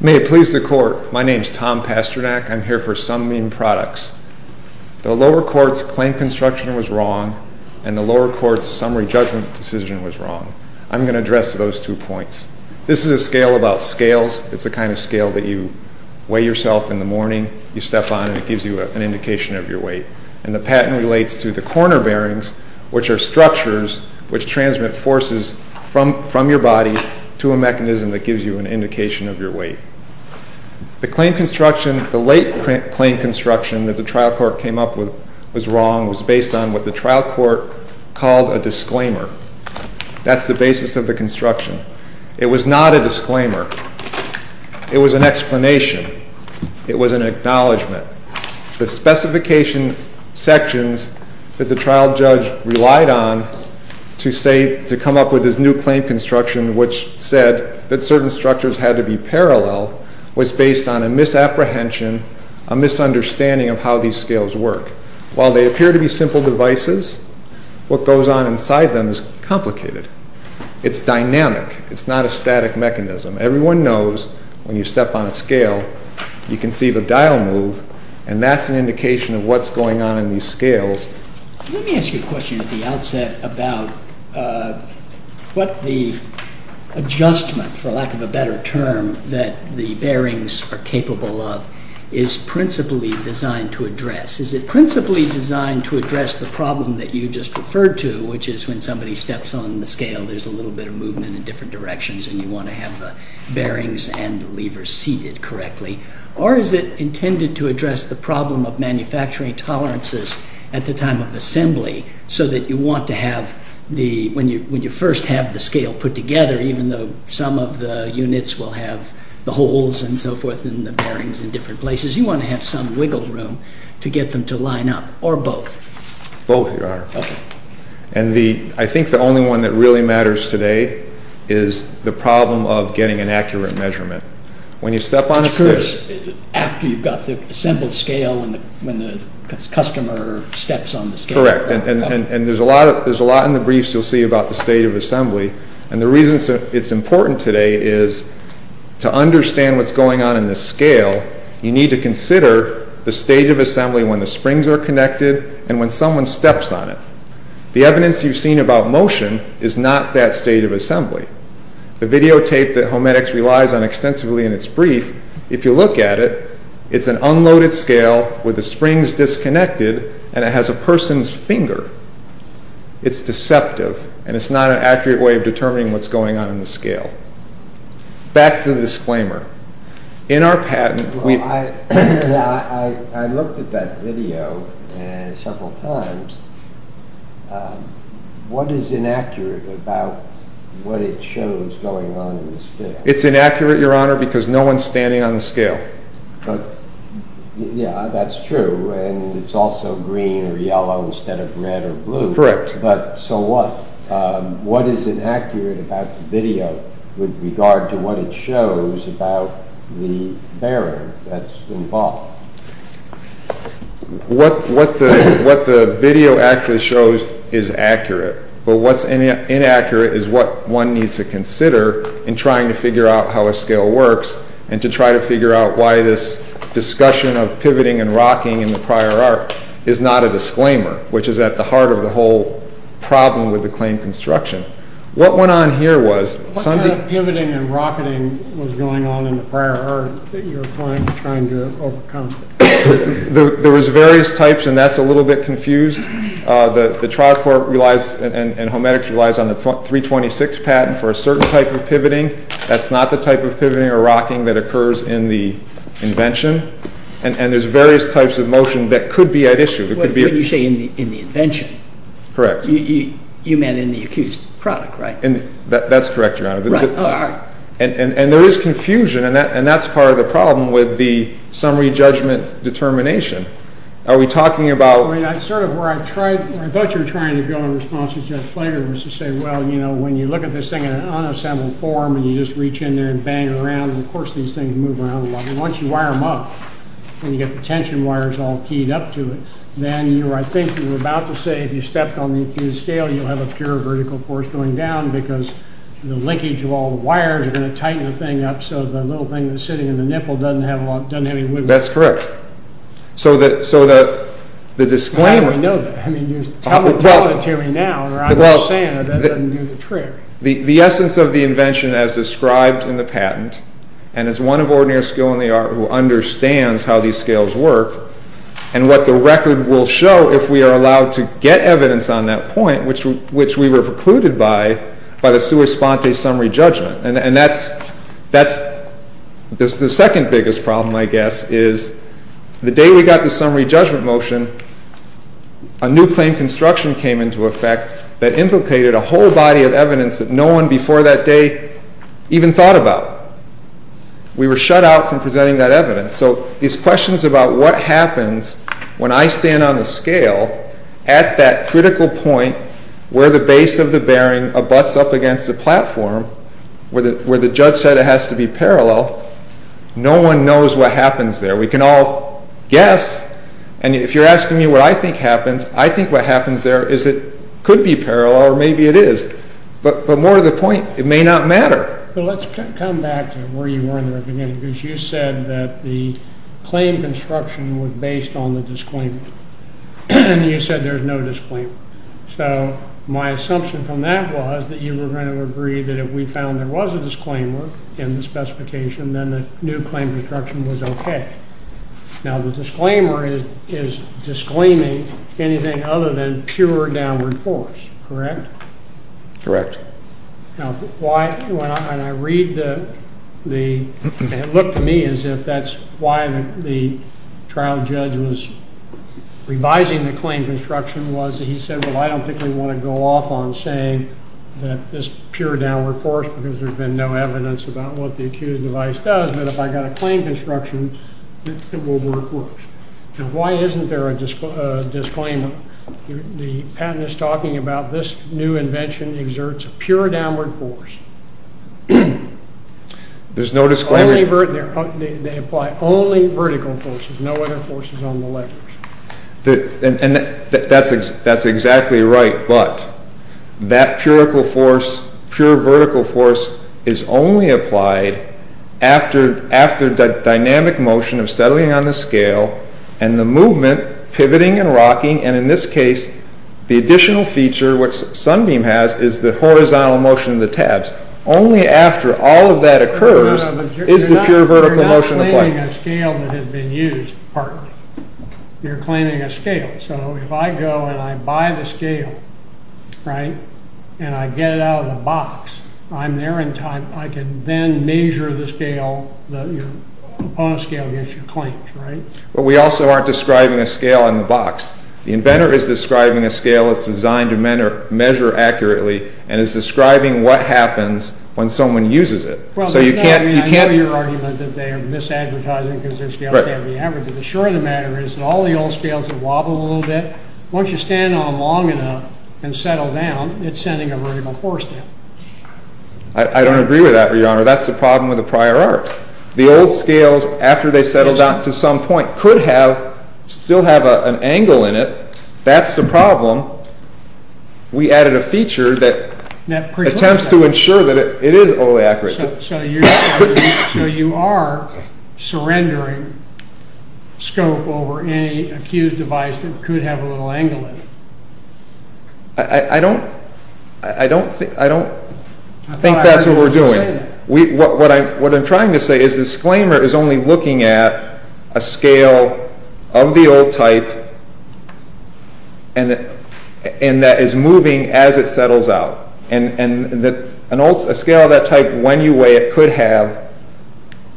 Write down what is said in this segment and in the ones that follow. May it please the Court, my name is Tom Pasternak. I'm here for SOMEBEAM PRODUCTS. The lower court's claim construction was wrong, and the lower court's summary judgment decision was wrong. I'm going to address those two points. This is a scale about scales. It's the kind of scale that you weigh yourself in the morning, you step on, and it gives you an indication of your weight. And the patent relates to the corner bearings, which are structures which transmit forces from your body to a mechanism that gives you an indication of your weight. The claim construction, the late claim construction that the trial court came up with was wrong. It was based on what the trial court called a disclaimer. That's the basis of the construction. It was not a disclaimer. It was an explanation. It was an acknowledgement. The specification sections that the trial judge relied on to come up with this new claim construction, which said that certain structures had to be parallel, was based on a misapprehension, a misunderstanding of how these scales work. While they appear to be simple devices, what goes on inside them is complicated. It's dynamic. It's not a static mechanism. Everyone knows when you step on a scale, you can see the dial move, and that's an indication of what's going on in these scales. Let me ask you a question at the outset about what the adjustment, for lack of a better term, that the bearings are capable of is principally designed to address. Is it principally designed to address the problem that you just referred to, which is when somebody steps on the scale, there's a little bit of movement in different directions, and you want to have the bearings and the levers seated correctly? Or is it intended to address the problem of manufacturing tolerances at the time of assembly, so that you want to have, when you first have the scale put together, even though some of the units will have the holes and so forth and the bearings in different places, you want to have some wiggle room to get them to line up, or both? Both, Your Honor. Okay. I think the only one that really matters today is the problem of getting an accurate measurement. When you step on a scale... After you've got the assembled scale, when the customer steps on the scale. That's correct, and there's a lot in the briefs you'll see about the state of assembly, and the reason it's important today is to understand what's going on in the scale, you need to consider the state of assembly when the springs are connected and when someone steps on it. The evidence you've seen about motion is not that state of assembly. The videotape that Homedics relies on extensively in its brief, if you look at it, it's an unloaded scale with the springs disconnected, and it has a person's finger. It's deceptive, and it's not an accurate way of determining what's going on in the scale. Back to the disclaimer. I looked at that video several times. What is inaccurate about what it shows going on in the scale? It's inaccurate, Your Honor, because no one's standing on the scale. Yeah, that's true, and it's also green or yellow instead of red or blue. Correct. But so what? What is inaccurate about the video with regard to what it shows about the bearing that's involved? What the video actually shows is accurate, but what's inaccurate is what one needs to consider in trying to figure out how a scale works and to try to figure out why this discussion of pivoting and rocking in the prior arc is not a disclaimer, which is at the heart of the whole problem with the claim construction. What kind of pivoting and rocketing was going on in the prior arc that you were trying to overcome? There was various types, and that's a little bit confused. The trial court and Homedics relies on the 326 patent for a certain type of pivoting. That's not the type of pivoting or rocking that occurs in the invention, and there's various types of motion that could be at issue. When you say in the invention, you meant in the accused product, right? That's correct, Your Honor, and there is confusion, and that's part of the problem with the summary judgment determination. I thought you were trying to go in response to Judge Flager and say, well, when you look at this thing in an unassembled form and you just reach in there and bang it around, and of course these things move around a lot. Once you wire them up and you get the tension wires all keyed up to it, then I think you were about to say if you stepped on the accused scale, you'll have a pure vertical force going down because the linkage of all the wires are going to tighten the thing up so the little thing that's sitting in the nipple doesn't have any wiggle room. That's correct. How do we know that? Tell it to me now, or I'm just saying it, that doesn't do the trick. The essence of the invention as described in the patent, and as one of ordinary skill in the art who understands how these scales work, and what the record will show if we are allowed to get evidence on that point, which we were precluded by, by the sua sponte summary judgment. That's the second biggest problem, I guess, is the day we got the summary judgment motion, a new claim construction came into effect that implicated a whole body of evidence that no one before that day even thought about. We were shut out from presenting that evidence. So these questions about what happens when I stand on the scale at that critical point where the base of the bearing abuts up against the platform, where the judge said it has to be parallel, no one knows what happens there. We can all guess, and if you're asking me what I think happens, I think what happens there is it could be parallel, or maybe it is, but more to the point, it may not matter. But let's come back to where you were in the beginning, because you said that the claim construction was based on the disclaimer. You said there's no disclaimer. So my assumption from that was that you were going to agree that if we found there was a disclaimer in the specification, then the new claim construction was okay. Now the disclaimer is disclaiming anything other than pure downward force, correct? Correct. Now why, when I read the, it looked to me as if that's why the trial judge was revising the claim construction was that he said, well I don't think we want to go off on saying that this pure downward force because there's been no evidence about what the accused device does, but if I got a claim construction, it will work worse. Now why isn't there a disclaimer? The patent is talking about this new invention exerts pure downward force. There's no disclaimer. They apply only vertical forces, no other forces on the legs. That's exactly right, but that pure vertical force is only applied after dynamic motion of settling on the scale and the movement pivoting and rocking. And in this case, the additional feature, what Sunbeam has is the horizontal motion of the tabs. Only after all of that occurs is the pure vertical motion applied. You're claiming a scale that has been used partly. You're claiming a scale. So if I go and I buy the scale, right, and I get it out of the box, I'm there in time. I can then measure the scale, the component scale against your claims, right? But we also aren't describing a scale in the box. The inventor is describing a scale that's designed to measure accurately and is describing what happens when someone uses it. I know your argument that they are misadvertising because their scale can't be averaged. But the short of the matter is that all the old scales wobble a little bit. Once you stand on them long enough and settle down, it's sending a vertical force down. I don't agree with that, Your Honor. That's the problem with the prior art. The old scales, after they settle down to some point, could still have an angle in it. That's the problem. We added a feature that attempts to ensure that it is overly accurate. So you are surrendering scope over any accused device that could have a little angle in it. I don't think that's what we're doing. What I'm trying to say is the disclaimer is only looking at a scale of the old type that is moving as it settles out. A scale of that type, when you weigh it, could have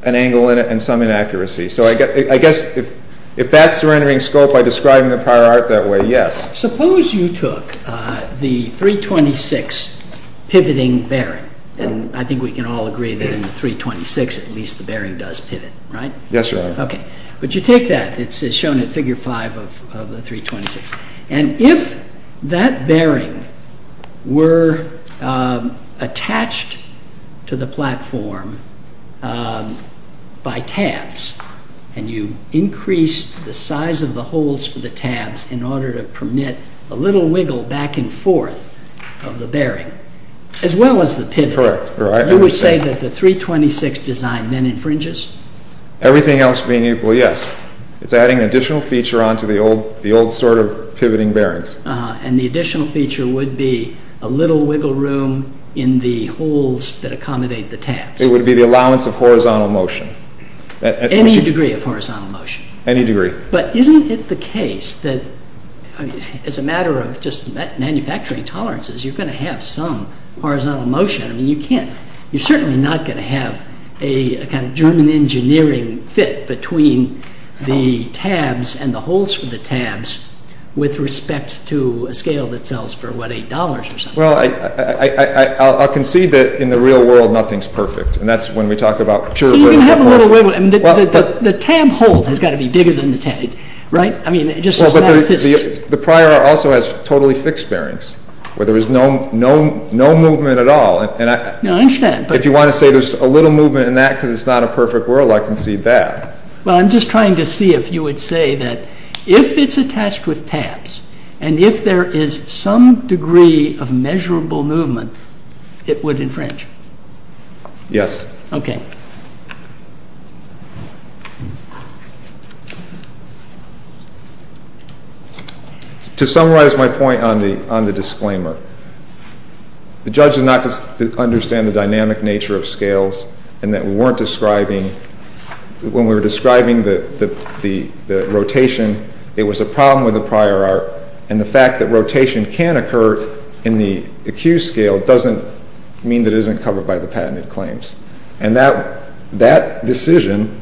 an angle in it and some inaccuracy. So I guess if that's surrendering scope by describing the prior art that way, yes. Suppose you took the .326 pivoting bearing. I think we can all agree that in the .326 at least the bearing does pivot, right? Yes, Your Honor. But you take that. It's shown in Figure 5 of the .326. If that bearing were attached to the platform by tabs, and you increased the size of the holes for the tabs in order to permit a little wiggle back and forth of the bearing, as well as the pivot, you would say that the .326 design then infringes? Everything else being equal, yes. It's adding an additional feature onto the old sort of pivoting bearings. And the additional feature would be a little wiggle room in the holes that accommodate the tabs. It would be the allowance of horizontal motion. Any degree of horizontal motion. Any degree. But isn't it the case that as a matter of just manufacturing tolerances, you're going to have some horizontal motion. You're certainly not going to have a kind of German engineering fit between the tabs and the holes for the tabs with respect to a scale that sells for, what, $8 or something. Well, I'll concede that in the real world nothing's perfect. And that's when we talk about pure wiggle. The tab hole has got to be bigger than the tab, right? I mean, just as a matter of physics. The prior also has totally fixed bearings where there is no movement at all. I understand. If you want to say there's a little movement in that because it's not a perfect world, I concede that. Well, I'm just trying to see if you would say that if it's attached with tabs and if there is some degree of measurable movement, it would infringe. Yes. Okay. To summarize my point on the disclaimer, the judge did not understand the dynamic nature of scales and that when we were describing the rotation, it was a problem with the prior art. And the fact that rotation can occur in the accused scale doesn't mean that it isn't covered by the patented claims. And that decision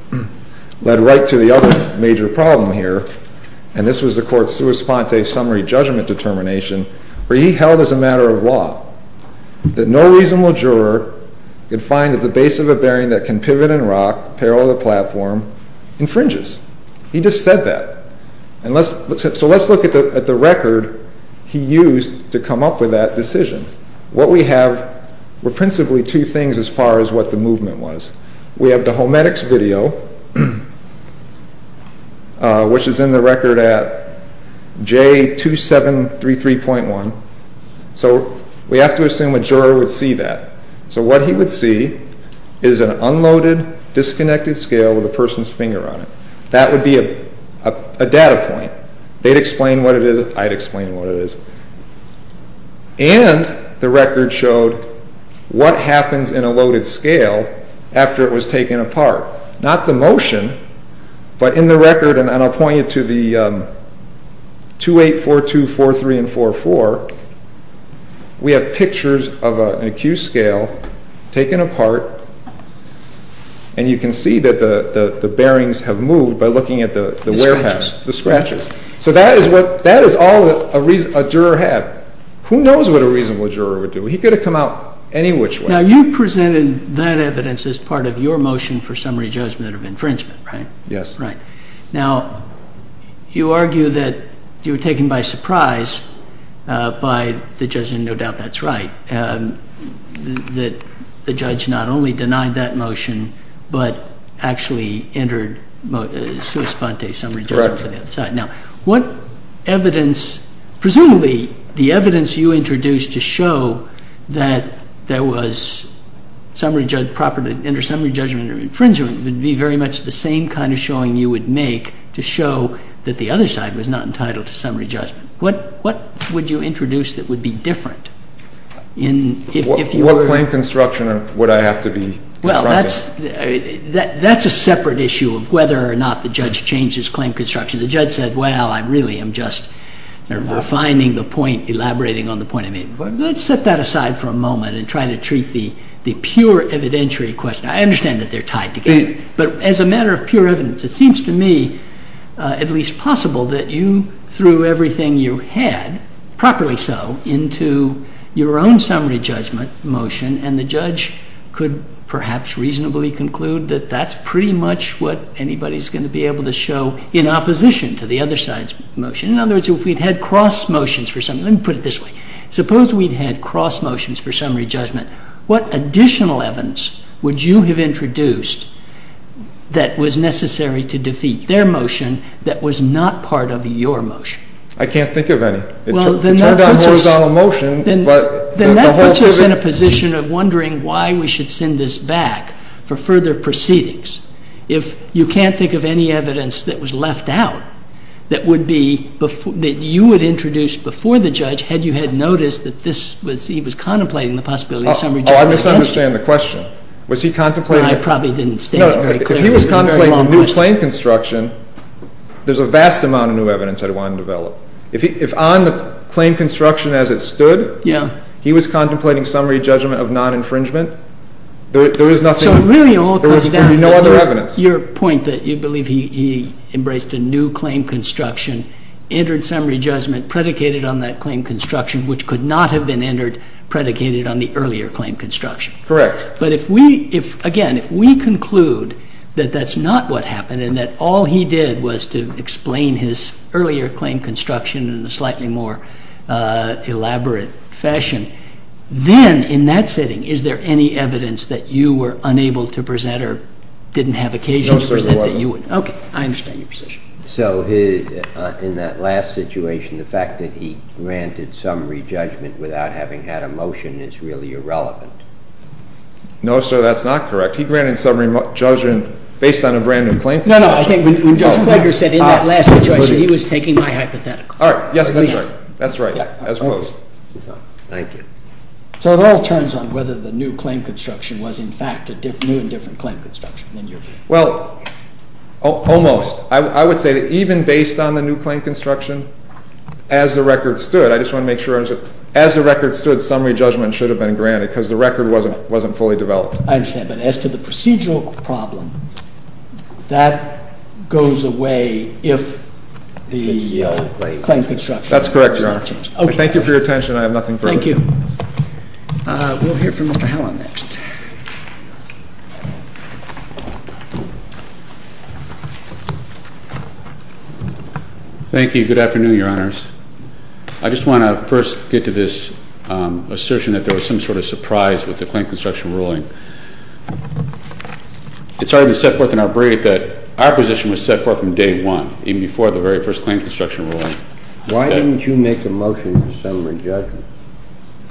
led right to the other major problem here. And this was the court's sua sponte summary judgment determination where he held as a matter of law that no reasonable juror could find that the base of a bearing that can pivot and rock parallel to the platform infringes. He just said that. So let's look at the record he used to come up with that decision. What we have were principally two things as far as what the movement was. We have the hometics video, which is in the record at J2733.1. So we have to assume a juror would see that. So what he would see is an unloaded, disconnected scale with a person's finger on it. That would be a data point. They'd explain what it is, I'd explain what it is. And the record showed what happens in a loaded scale after it was taken apart. Not the motion, but in the record, and I'll point you to the 28424344, we have pictures of an accused scale taken apart, and you can see that the bearings have moved by looking at the wear patterns, the scratches. So that is all a juror had. Who knows what a reasonable juror would do? He could have come out any which way. Now, you presented that evidence as part of your motion for summary judgment of infringement, right? Yes. Right. Now, you argue that you were taken by surprise by the judge, and no doubt that's right, that the judge not only denied that motion but actually entered sui sponte, summary judgment. Correct. Now, what evidence, presumably the evidence you introduced to show that there was summary judgment property, under summary judgment of infringement would be very much the same kind of showing you would make to show that the other side was not entitled to summary judgment. What would you introduce that would be different? What claim construction would I have to be confronting? That's a separate issue of whether or not the judge changed his claim construction. The judge said, well, I really am just refining the point, elaborating on the point I made before. Let's set that aside for a moment and try to treat the pure evidentiary question. I understand that they're tied together, but as a matter of pure evidence, it seems to me at least possible that you threw everything you had, properly so, into your own summary judgment motion, and the judge could perhaps reasonably conclude that that's pretty much what anybody's going to be able to show in opposition to the other side's motion. In other words, if we'd had cross motions for summary, let me put it this way. Suppose we'd had cross motions for summary judgment. What additional evidence would you have introduced that was necessary to defeat their motion that was not part of your motion? I can't think of any. Well, then that puts us in a position of wondering why we should send this back for further proceedings. If you can't think of any evidence that was left out that you would introduce before the judge, had you had noticed that he was contemplating the possibility of summary judgment. I misunderstand the question. Was he contemplating? I probably didn't state it very clearly. If he was contemplating new claim construction, there's a vast amount of new evidence I'd want to develop. If on the claim construction as it stood, he was contemplating summary judgment of non-infringement, there is nothing, there would be no other evidence. So really all comes down to your point that you believe he embraced a new claim construction, entered summary judgment predicated on that claim construction, which could not have been entered predicated on the earlier claim construction. Correct. But if we, again, if we conclude that that's not what happened and that all he did was to explain his earlier claim construction in a slightly more elaborate fashion, then in that setting is there any evidence that you were unable to present or didn't have occasion to present? No, sir, there wasn't. Okay, I understand your position. So in that last situation, the fact that he granted summary judgment without having had a motion is really irrelevant. No, sir, that's not correct. He granted summary judgment based on a brand-new claim construction. No, no, I think when Judge Klobuchar said in that last situation, he was taking my hypothetical. All right. Yes, that's right. That's right, as opposed. Thank you. So it all turns on whether the new claim construction was, in fact, a new and different claim construction. Well, almost. I would say that even based on the new claim construction, as the record stood, I just want to make sure, as the record stood, summary judgment should have been granted because the record wasn't fully developed. I understand, but as to the procedural problem, that goes away if the claim construction is not changed. That's correct, Your Honor. Okay. Thank you for your attention. I have nothing further. Thank you. We'll hear from Mr. Hallin next. Thank you. Good afternoon, Your Honors. I just want to first get to this assertion that there was some sort of surprise with the claim construction ruling. It's already been set forth in our brief that our position was set forth from day one, even before the very first claim construction ruling. Why didn't you make a motion for summary judgment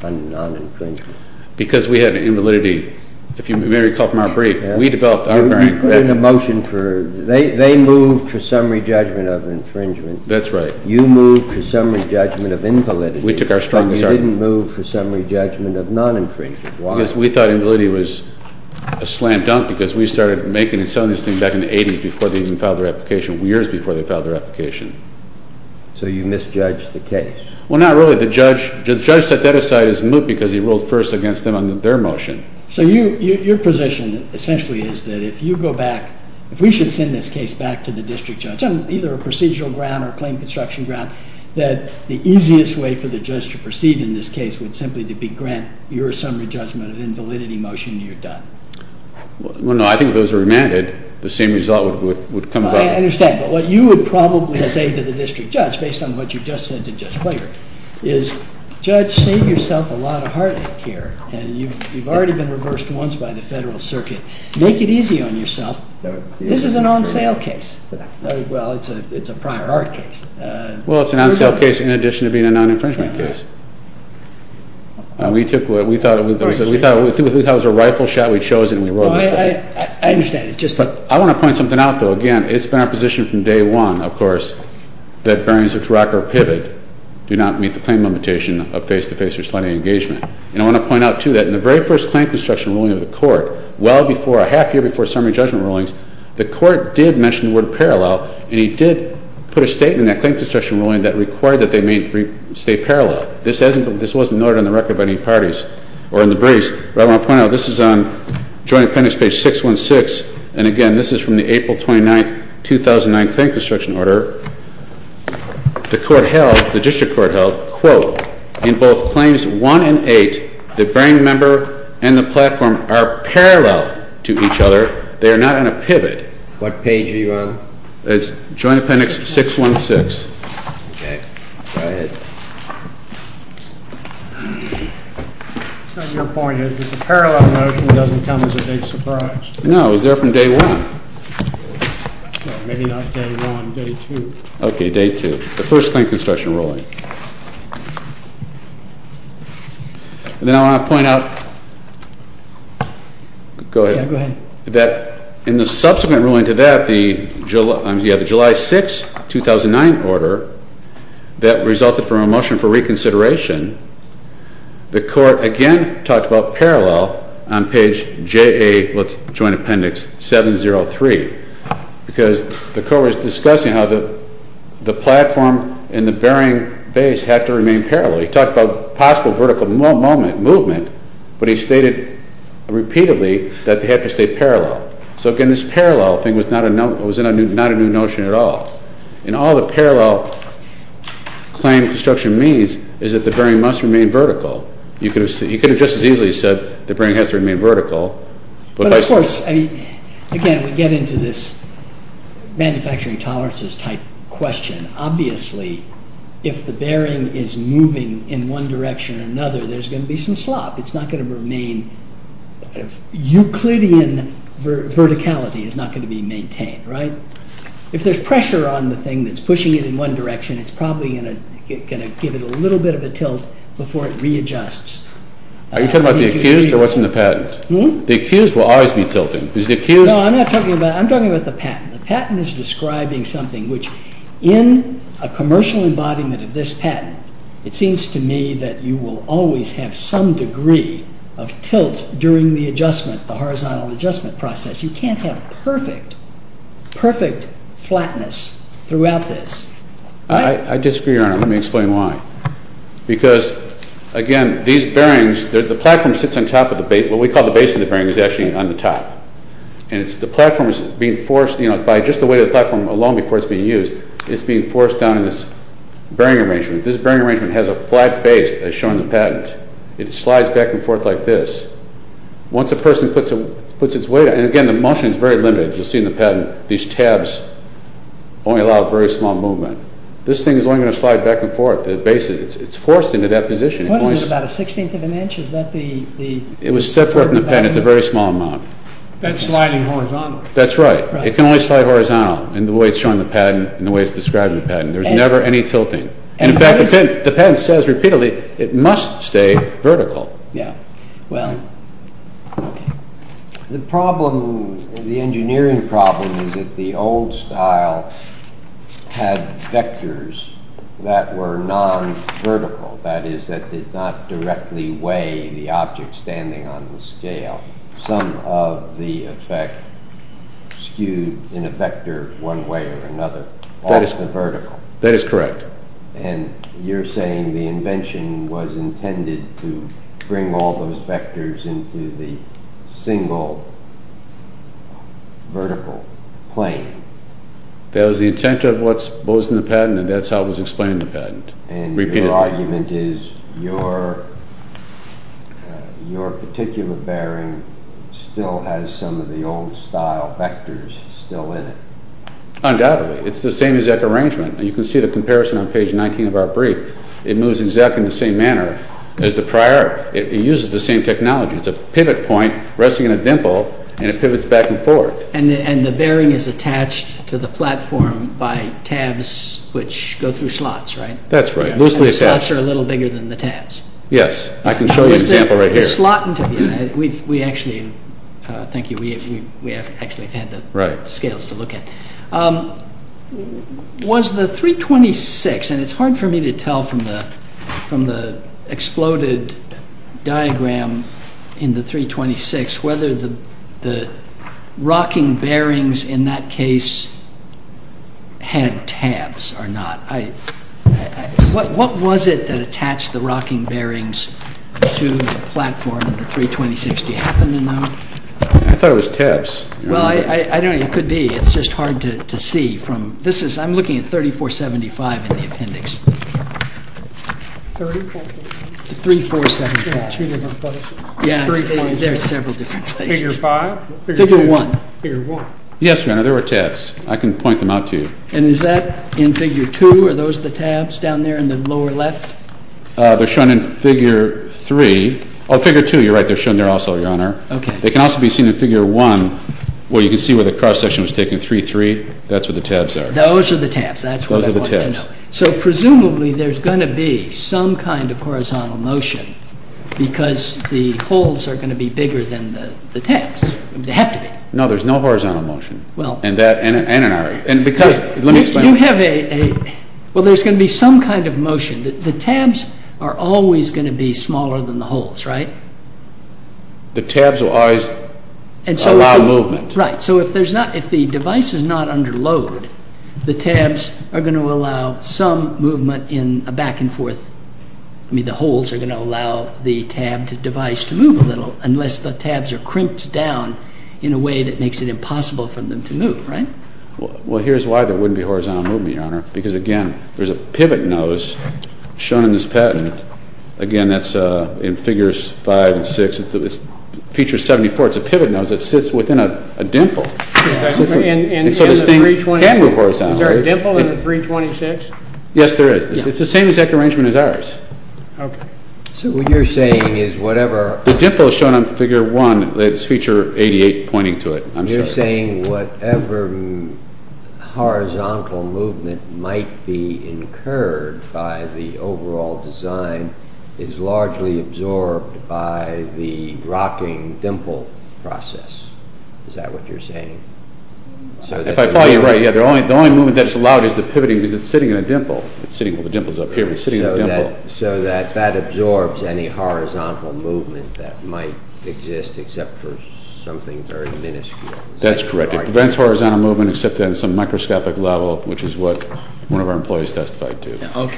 on non-infringement? Because we had an invalidity. If you may recall from our brief, we developed our variant. You put in a motion for, they moved to summary judgment of infringement. That's right. You moved to summary judgment of invalidity. We took our strongest argument. And you didn't move for summary judgment of non-infringement. Why? Because we thought invalidity was a slam dunk because we started making and selling this thing back in the 80s before they even filed their application, years before they filed their application. So you misjudged the case? Well, not really. The judge set that aside as moot because he ruled first against them on their motion. So your position essentially is that if you go back, if we should send this case back to the district judge on either a procedural ground or a claim construction ground, that the easiest way for the judge to proceed in this case would simply be to grant your summary judgment of invalidity motion and you're done. Well, no. I think if it was remanded, the same result would come about. I understand. But what you would probably say to the district judge, based on what you just said to Judge Blagert, is judge, save yourself a lot of heartache here. And you've already been reversed once by the federal circuit. Make it easy on yourself. This is an on-sale case. Well, it's a prior art case. Well, it's an on-sale case in addition to being a non-infringement case. We thought it was a rifle shot. We chose it. I understand. I want to point something out, though. Again, it's been our position from day one, of course, that bearings which rock or pivot do not meet the claim limitation of face-to-face or sliding engagement. And I want to point out, too, that in the very first claim construction ruling of the court, well before, a half year before summary judgment rulings, the court did mention the word parallel. And he did put a statement in that claim construction ruling that required that they stay parallel. This wasn't noted on the record by any parties or in the briefs. I want to point out, this is on joint appendix page 616. And, again, this is from the April 29, 2009 claim construction order. The court held, the district court held, quote, in both claims 1 and 8, the bearing member and the platform are parallel to each other. They are not in a pivot. What page are you on? It's joint appendix 616. Okay. Go ahead. Your point is that the parallel motion doesn't come as a big surprise. No. It was there from day one. Maybe not day one, day two. Okay. Day two. The first claim construction ruling. And then I want to point out, go ahead, that in the subsequent ruling to that, the July 6, 2009 order, that resulted from a motion for reconsideration, the court again talked about parallel on page JA, let's join appendix 703. Because the court was discussing how the platform and the bearing base have to remain parallel. He talked about possible vertical movement, but he stated repeatedly that they have to stay parallel. So, again, this parallel thing was not a new notion at all. And all the parallel claim construction means is that the bearing must remain vertical. You could have just as easily said the bearing has to remain vertical. But, of course, again, we get into this manufacturing tolerances type question. Obviously, if the bearing is moving in one direction or another, there's going to be some slop. It's not going to remain. Euclidean verticality is not going to be maintained, right? If there's pressure on the thing that's pushing it in one direction, it's probably going to give it a little bit of a tilt before it readjusts. Are you talking about the accused or what's in the patent? The accused will always be tilting. No, I'm not talking about that. I'm talking about the patent. The patent is describing something which in a commercial embodiment of this patent, it seems to me that you will always have some degree of tilt during the adjustment, the horizontal adjustment process. You can't have perfect, perfect flatness throughout this. I disagree, Your Honor. Let me explain why. Because, again, these bearings, the platform sits on top of what we call the base of the bearing. It's actually on the top. The platform is being forced, by just the weight of the platform alone before it's being used, it's being forced down in this bearing arrangement. This bearing arrangement has a flat base, as shown in the patent. It slides back and forth like this. Once a person puts its weight on it, and again, the motion is very limited. You'll see in the patent, these tabs only allow very small movement. This thing is only going to slide back and forth. It's forced into that position. What is this, about a sixteenth of an inch? It was set forth in the patent. It's a very small amount. That's sliding horizontally. That's right. It can only slide horizontally in the way it's shown in the patent, in the way it's described in the patent. There's never any tilting. In fact, the patent says repeatedly, it must stay vertical. The engineering problem is that the old style had vectors that were non-vertical, that is, that did not directly weigh the object standing on the scale. Some of the effect skewed in a vector one way or another. That is correct. You're saying the invention was intended to bring all those vectors into the single vertical plane. That was the intent of what was in the patent, and that's how it was explained in the patent. Your argument is your particular bearing still has some of the old style vectors still in it. Undoubtedly. It's the same exact arrangement. You can see the comparison on page 19 of our brief. It moves exactly in the same manner as the prior. It uses the same technology. It's a pivot point resting in a dimple, and it pivots back and forth. And the bearing is attached to the platform by tabs which go through slots, right? That's right. Loosely attached. The slots are a little bigger than the tabs. Yes. I can show you an example right here. Thank you. We actually had the scales to look at. Was the 326, and it's hard for me to tell from the exploded diagram in the 326, whether the rocking bearings in that case had tabs or not. What was it that attached the rocking bearings to the platform in the 326? Do you happen to know? I thought it was tabs. Well, I don't know. It could be. It's just hard to see. I'm looking at 3475 in the appendix. 3475. There are several different places. Figure 5? Figure 1. Figure 1. Yes, Your Honor, there were tabs. I can point them out to you. And is that in Figure 2? Are those the tabs down there in the lower left? They're shown in Figure 3. Oh, Figure 2, you're right, they're shown there also, Your Honor. Okay. They can also be seen in Figure 1 where you can see where the cross-section was taken, 3-3. That's where the tabs are. Those are the tabs. That's what I wanted to know. So presumably there's going to be some kind of horizontal motion because the holes are going to be bigger than the tabs. They have to be. No, there's no horizontal motion. Let me explain. Well, there's going to be some kind of motion. The tabs are always going to be smaller than the holes, right? The tabs will always allow movement. Right. So if the device is not under load, the tabs are going to allow some movement in a back-and-forth. I mean, the holes are going to allow the tabbed device to move a little unless the tabs are crimped down in a way that makes it impossible for them to move, right? Well, here's why there wouldn't be horizontal movement, Your Honor, because, again, there's a pivot nose shown in this patent. Again, that's in Figures 5 and 6. It features 74. It's a pivot nose that sits within a dimple. And so this thing can move horizontally. Is there a dimple in the 326? Yes, there is. It's the same exact arrangement as ours. Okay. So what you're saying is whatever… The dimple is shown on Figure 1. It's Feature 88 pointing to it. I'm sorry. You're saying whatever horizontal movement might be incurred by the overall design is largely absorbed by the rocking dimple process. Is that what you're saying? If I follow you right, yeah. The only movement that's allowed is the pivoting because it's sitting in a dimple. Well, the dimple's up here, but it's sitting in a dimple. So that absorbs any horizontal movement that might exist except for something very minuscule. That's correct. It prevents horizontal movement except at some microscopic level, which is what one of our employees testified to.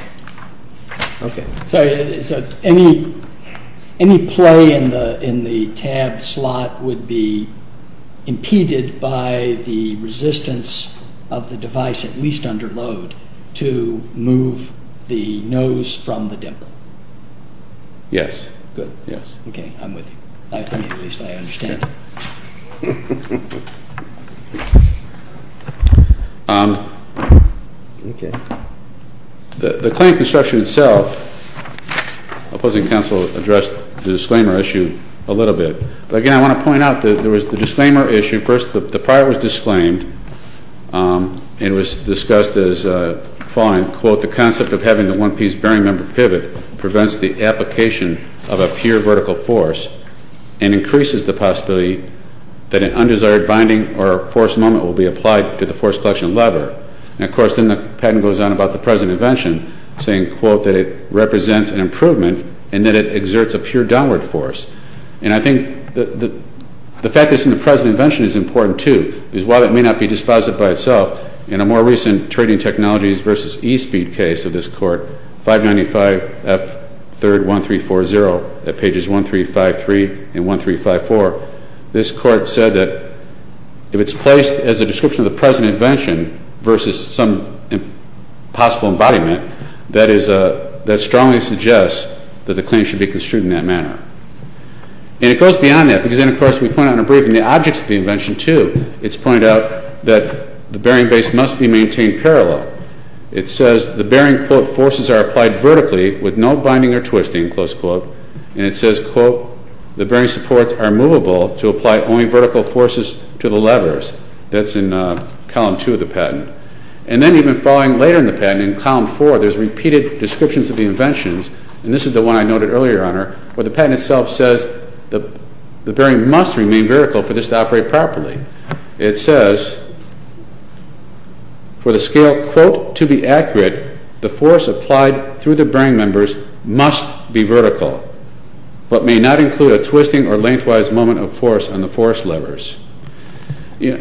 Okay. So any play in the tab slot would be impeded by the resistance of the device, at least under load, to move the nose from the dimple. Yes. Good. Yes. Okay, I'm with you. At least I understand. Okay. The claim construction itself, opposing counsel addressed the disclaimer issue a little bit. But again, I want to point out that there was the disclaimer issue first. The prior was disclaimed and was discussed as following. Quote, the concept of having the one-piece bearing member pivot prevents the application of a pure vertical force and increases the possibility that an undesired binding or force moment will be applied to the force collection lever. And, of course, then the patent goes on about the present invention, saying, quote, that it represents an improvement and that it exerts a pure downward force. And I think the fact that it's in the present invention is important, too, because while it may not be dispositive by itself, in a more recent trading technologies versus e-speed case of this Court, 595F31340 at pages 1353 and 1354, this Court said that if it's placed as a description of the present invention versus some possible embodiment, that strongly suggests that the claim should be construed in that manner. And it goes beyond that, because then, of course, we point out in our briefing the objects of the invention, too. It's pointed out that the bearing base must be maintained parallel. It says the bearing, quote, forces are applied vertically with no binding or twisting, close quote. And it says, quote, the bearing supports are movable to apply only vertical forces to the levers. That's in Column 2 of the patent. And then even following later in the patent, in Column 4, there's repeated descriptions of the inventions, and this is the one I noted earlier, Your Honor, where the patent itself says the bearing must remain vertical for this to operate properly. It says, for the scale, quote, to be accurate, the force applied through the bearing members must be vertical, but may not include a twisting or lengthwise moment of force on the force levers. And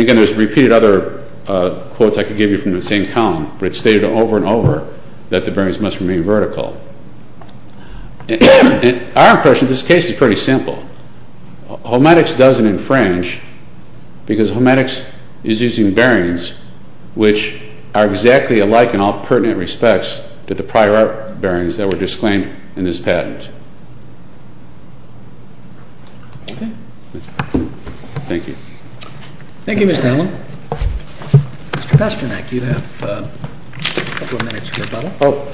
again, there's repeated other quotes I could give you from the same column, but it's stated over and over that the bearings must remain vertical. And our impression of this case is pretty simple. HOMETICS doesn't infringe, because HOMETICS is using bearings which are exactly alike in all pertinent respects to the prior art bearings that were disclaimed in this patent. Okay. Thank you. Thank you, Mr. Allen. Mr. Pasternak, you have a couple of minutes for rebuttal. Oh.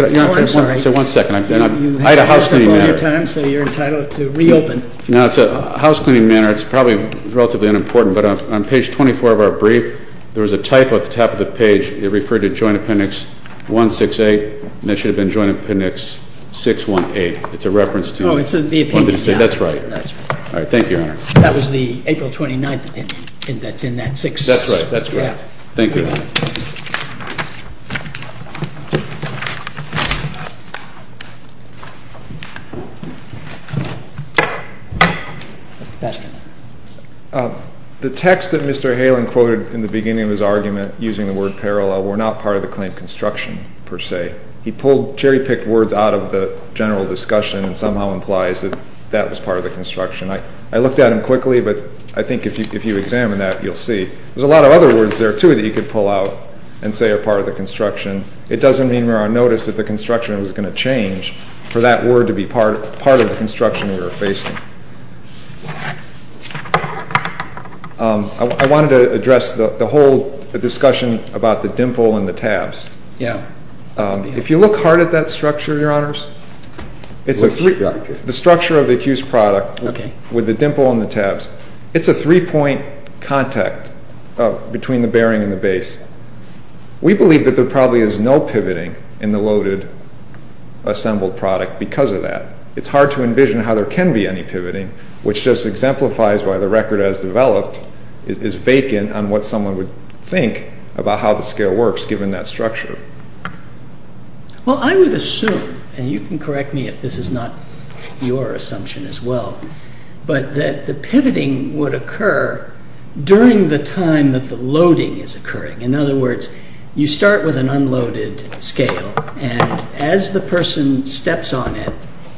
Oh, I'm sorry. Say one second. I had a housecleaning matter. You had to roll your time, so you're entitled to reopen. No, it's a housecleaning matter. It's probably relatively unimportant, but on Page 24 of our brief, there was a typo at the top of the page. It referred to Joint Appendix 168, and that should have been Joint Appendix 168. It's a reference to the one that you say. Oh, it's the opinion. That's right. All right. Thank you, Your Honor. That was the April 29th opinion that's in that six. That's right. That's right. Yeah. Thank you, Your Honor. Mr. Pasternak. The text that Mr. Halen quoted in the beginning of his argument using the word parallel were not part of the claim construction per se. He pulled cherry-picked words out of the general discussion and somehow implies that that was part of the construction. I looked at them quickly, but I think if you examine that, you'll see. There's a lot of other words there, too, that you could pull out and say are part of the construction. It doesn't mean we're on notice that the construction was going to change for that word to be part of the construction we were facing. I wanted to address the whole discussion about the dimple and the tabs. Yeah. If you look hard at that structure, Your Honors, the structure of the accused product with the dimple and the tabs, it's a three-point contact between the bearing and the base. We believe that there probably is no pivoting in the loaded assembled product because of that. It's hard to envision how there can be any pivoting, which just exemplifies why the record as developed is vacant on what someone would think about how the scale works given that structure. Well, I would assume, and you can correct me if this is not your assumption as well, but that the pivoting would occur during the time that the loading is occurring. In other words, you start with an unloaded scale, and as the person steps on it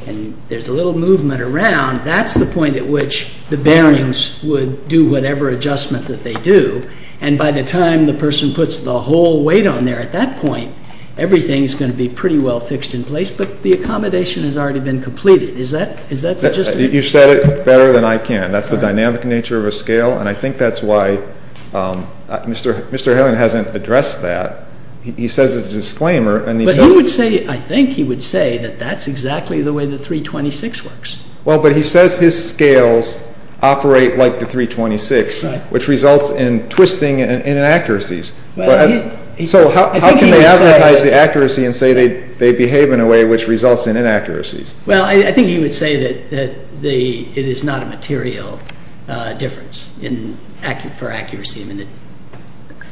and there's a little movement around, that's the point at which the bearings would do whatever adjustment that they do. And by the time the person puts the whole weight on there at that point, everything is going to be pretty well fixed in place, but the accommodation has already been completed. Is that logistic? You said it better than I can. That's the dynamic nature of a scale. And I think that's why Mr. Halen hasn't addressed that. He says it's a disclaimer. But he would say, I think he would say, that that's exactly the way the 326 works. Well, but he says his scales operate like the 326, which results in twisting and inaccuracies. So how can they advertise the accuracy and say they behave in a way which results in inaccuracies? Well, I think he would say that it is not a material difference for accuracy.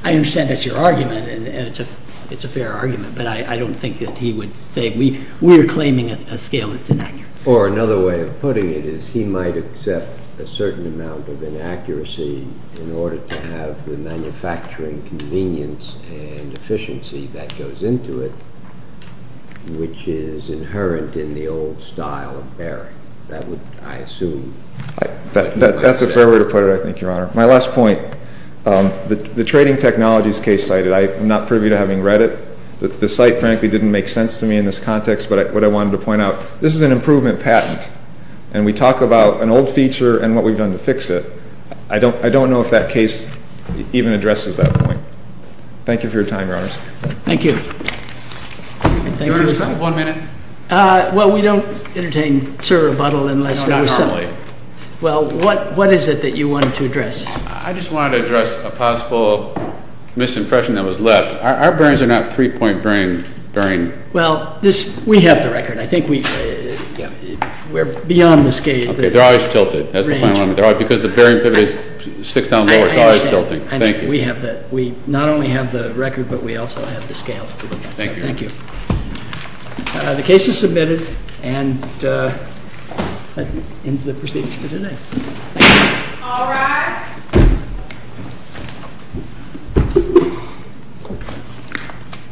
I understand that's your argument, and it's a fair argument, but I don't think that he would say we're claiming a scale that's inaccurate. Or another way of putting it is he might accept a certain amount of inaccuracy in order to have the manufacturing convenience and efficiency that goes into it, which is inherent in the old style of bearing. That's a fair way to put it, I think, Your Honor. My last point, the trading technologies case cited, I'm not privy to having read it. The site, frankly, didn't make sense to me in this context. But what I wanted to point out, this is an improvement patent, and we talk about an old feature and what we've done to fix it. I don't know if that case even addresses that point. Thank you for your time, Your Honors. Thank you. Your Honor, do we have one minute? Well, we don't entertain sir rebuttal unless there was something. Not normally. Well, what is it that you wanted to address? I just wanted to address a possible misimpression that was left. Our bearings are not three-point bearing. Well, we have the record. I think we're beyond the scale. Okay. They're always tilted. That's the final one. Because the bearing pivot is six down lower, it's always tilting. I understand. Thank you. We have that. We not only have the record, but we also have the scales to look at. Thank you. Thank you. The case is submitted, and that ends the proceedings for today. Thank you. All rise. Thank you.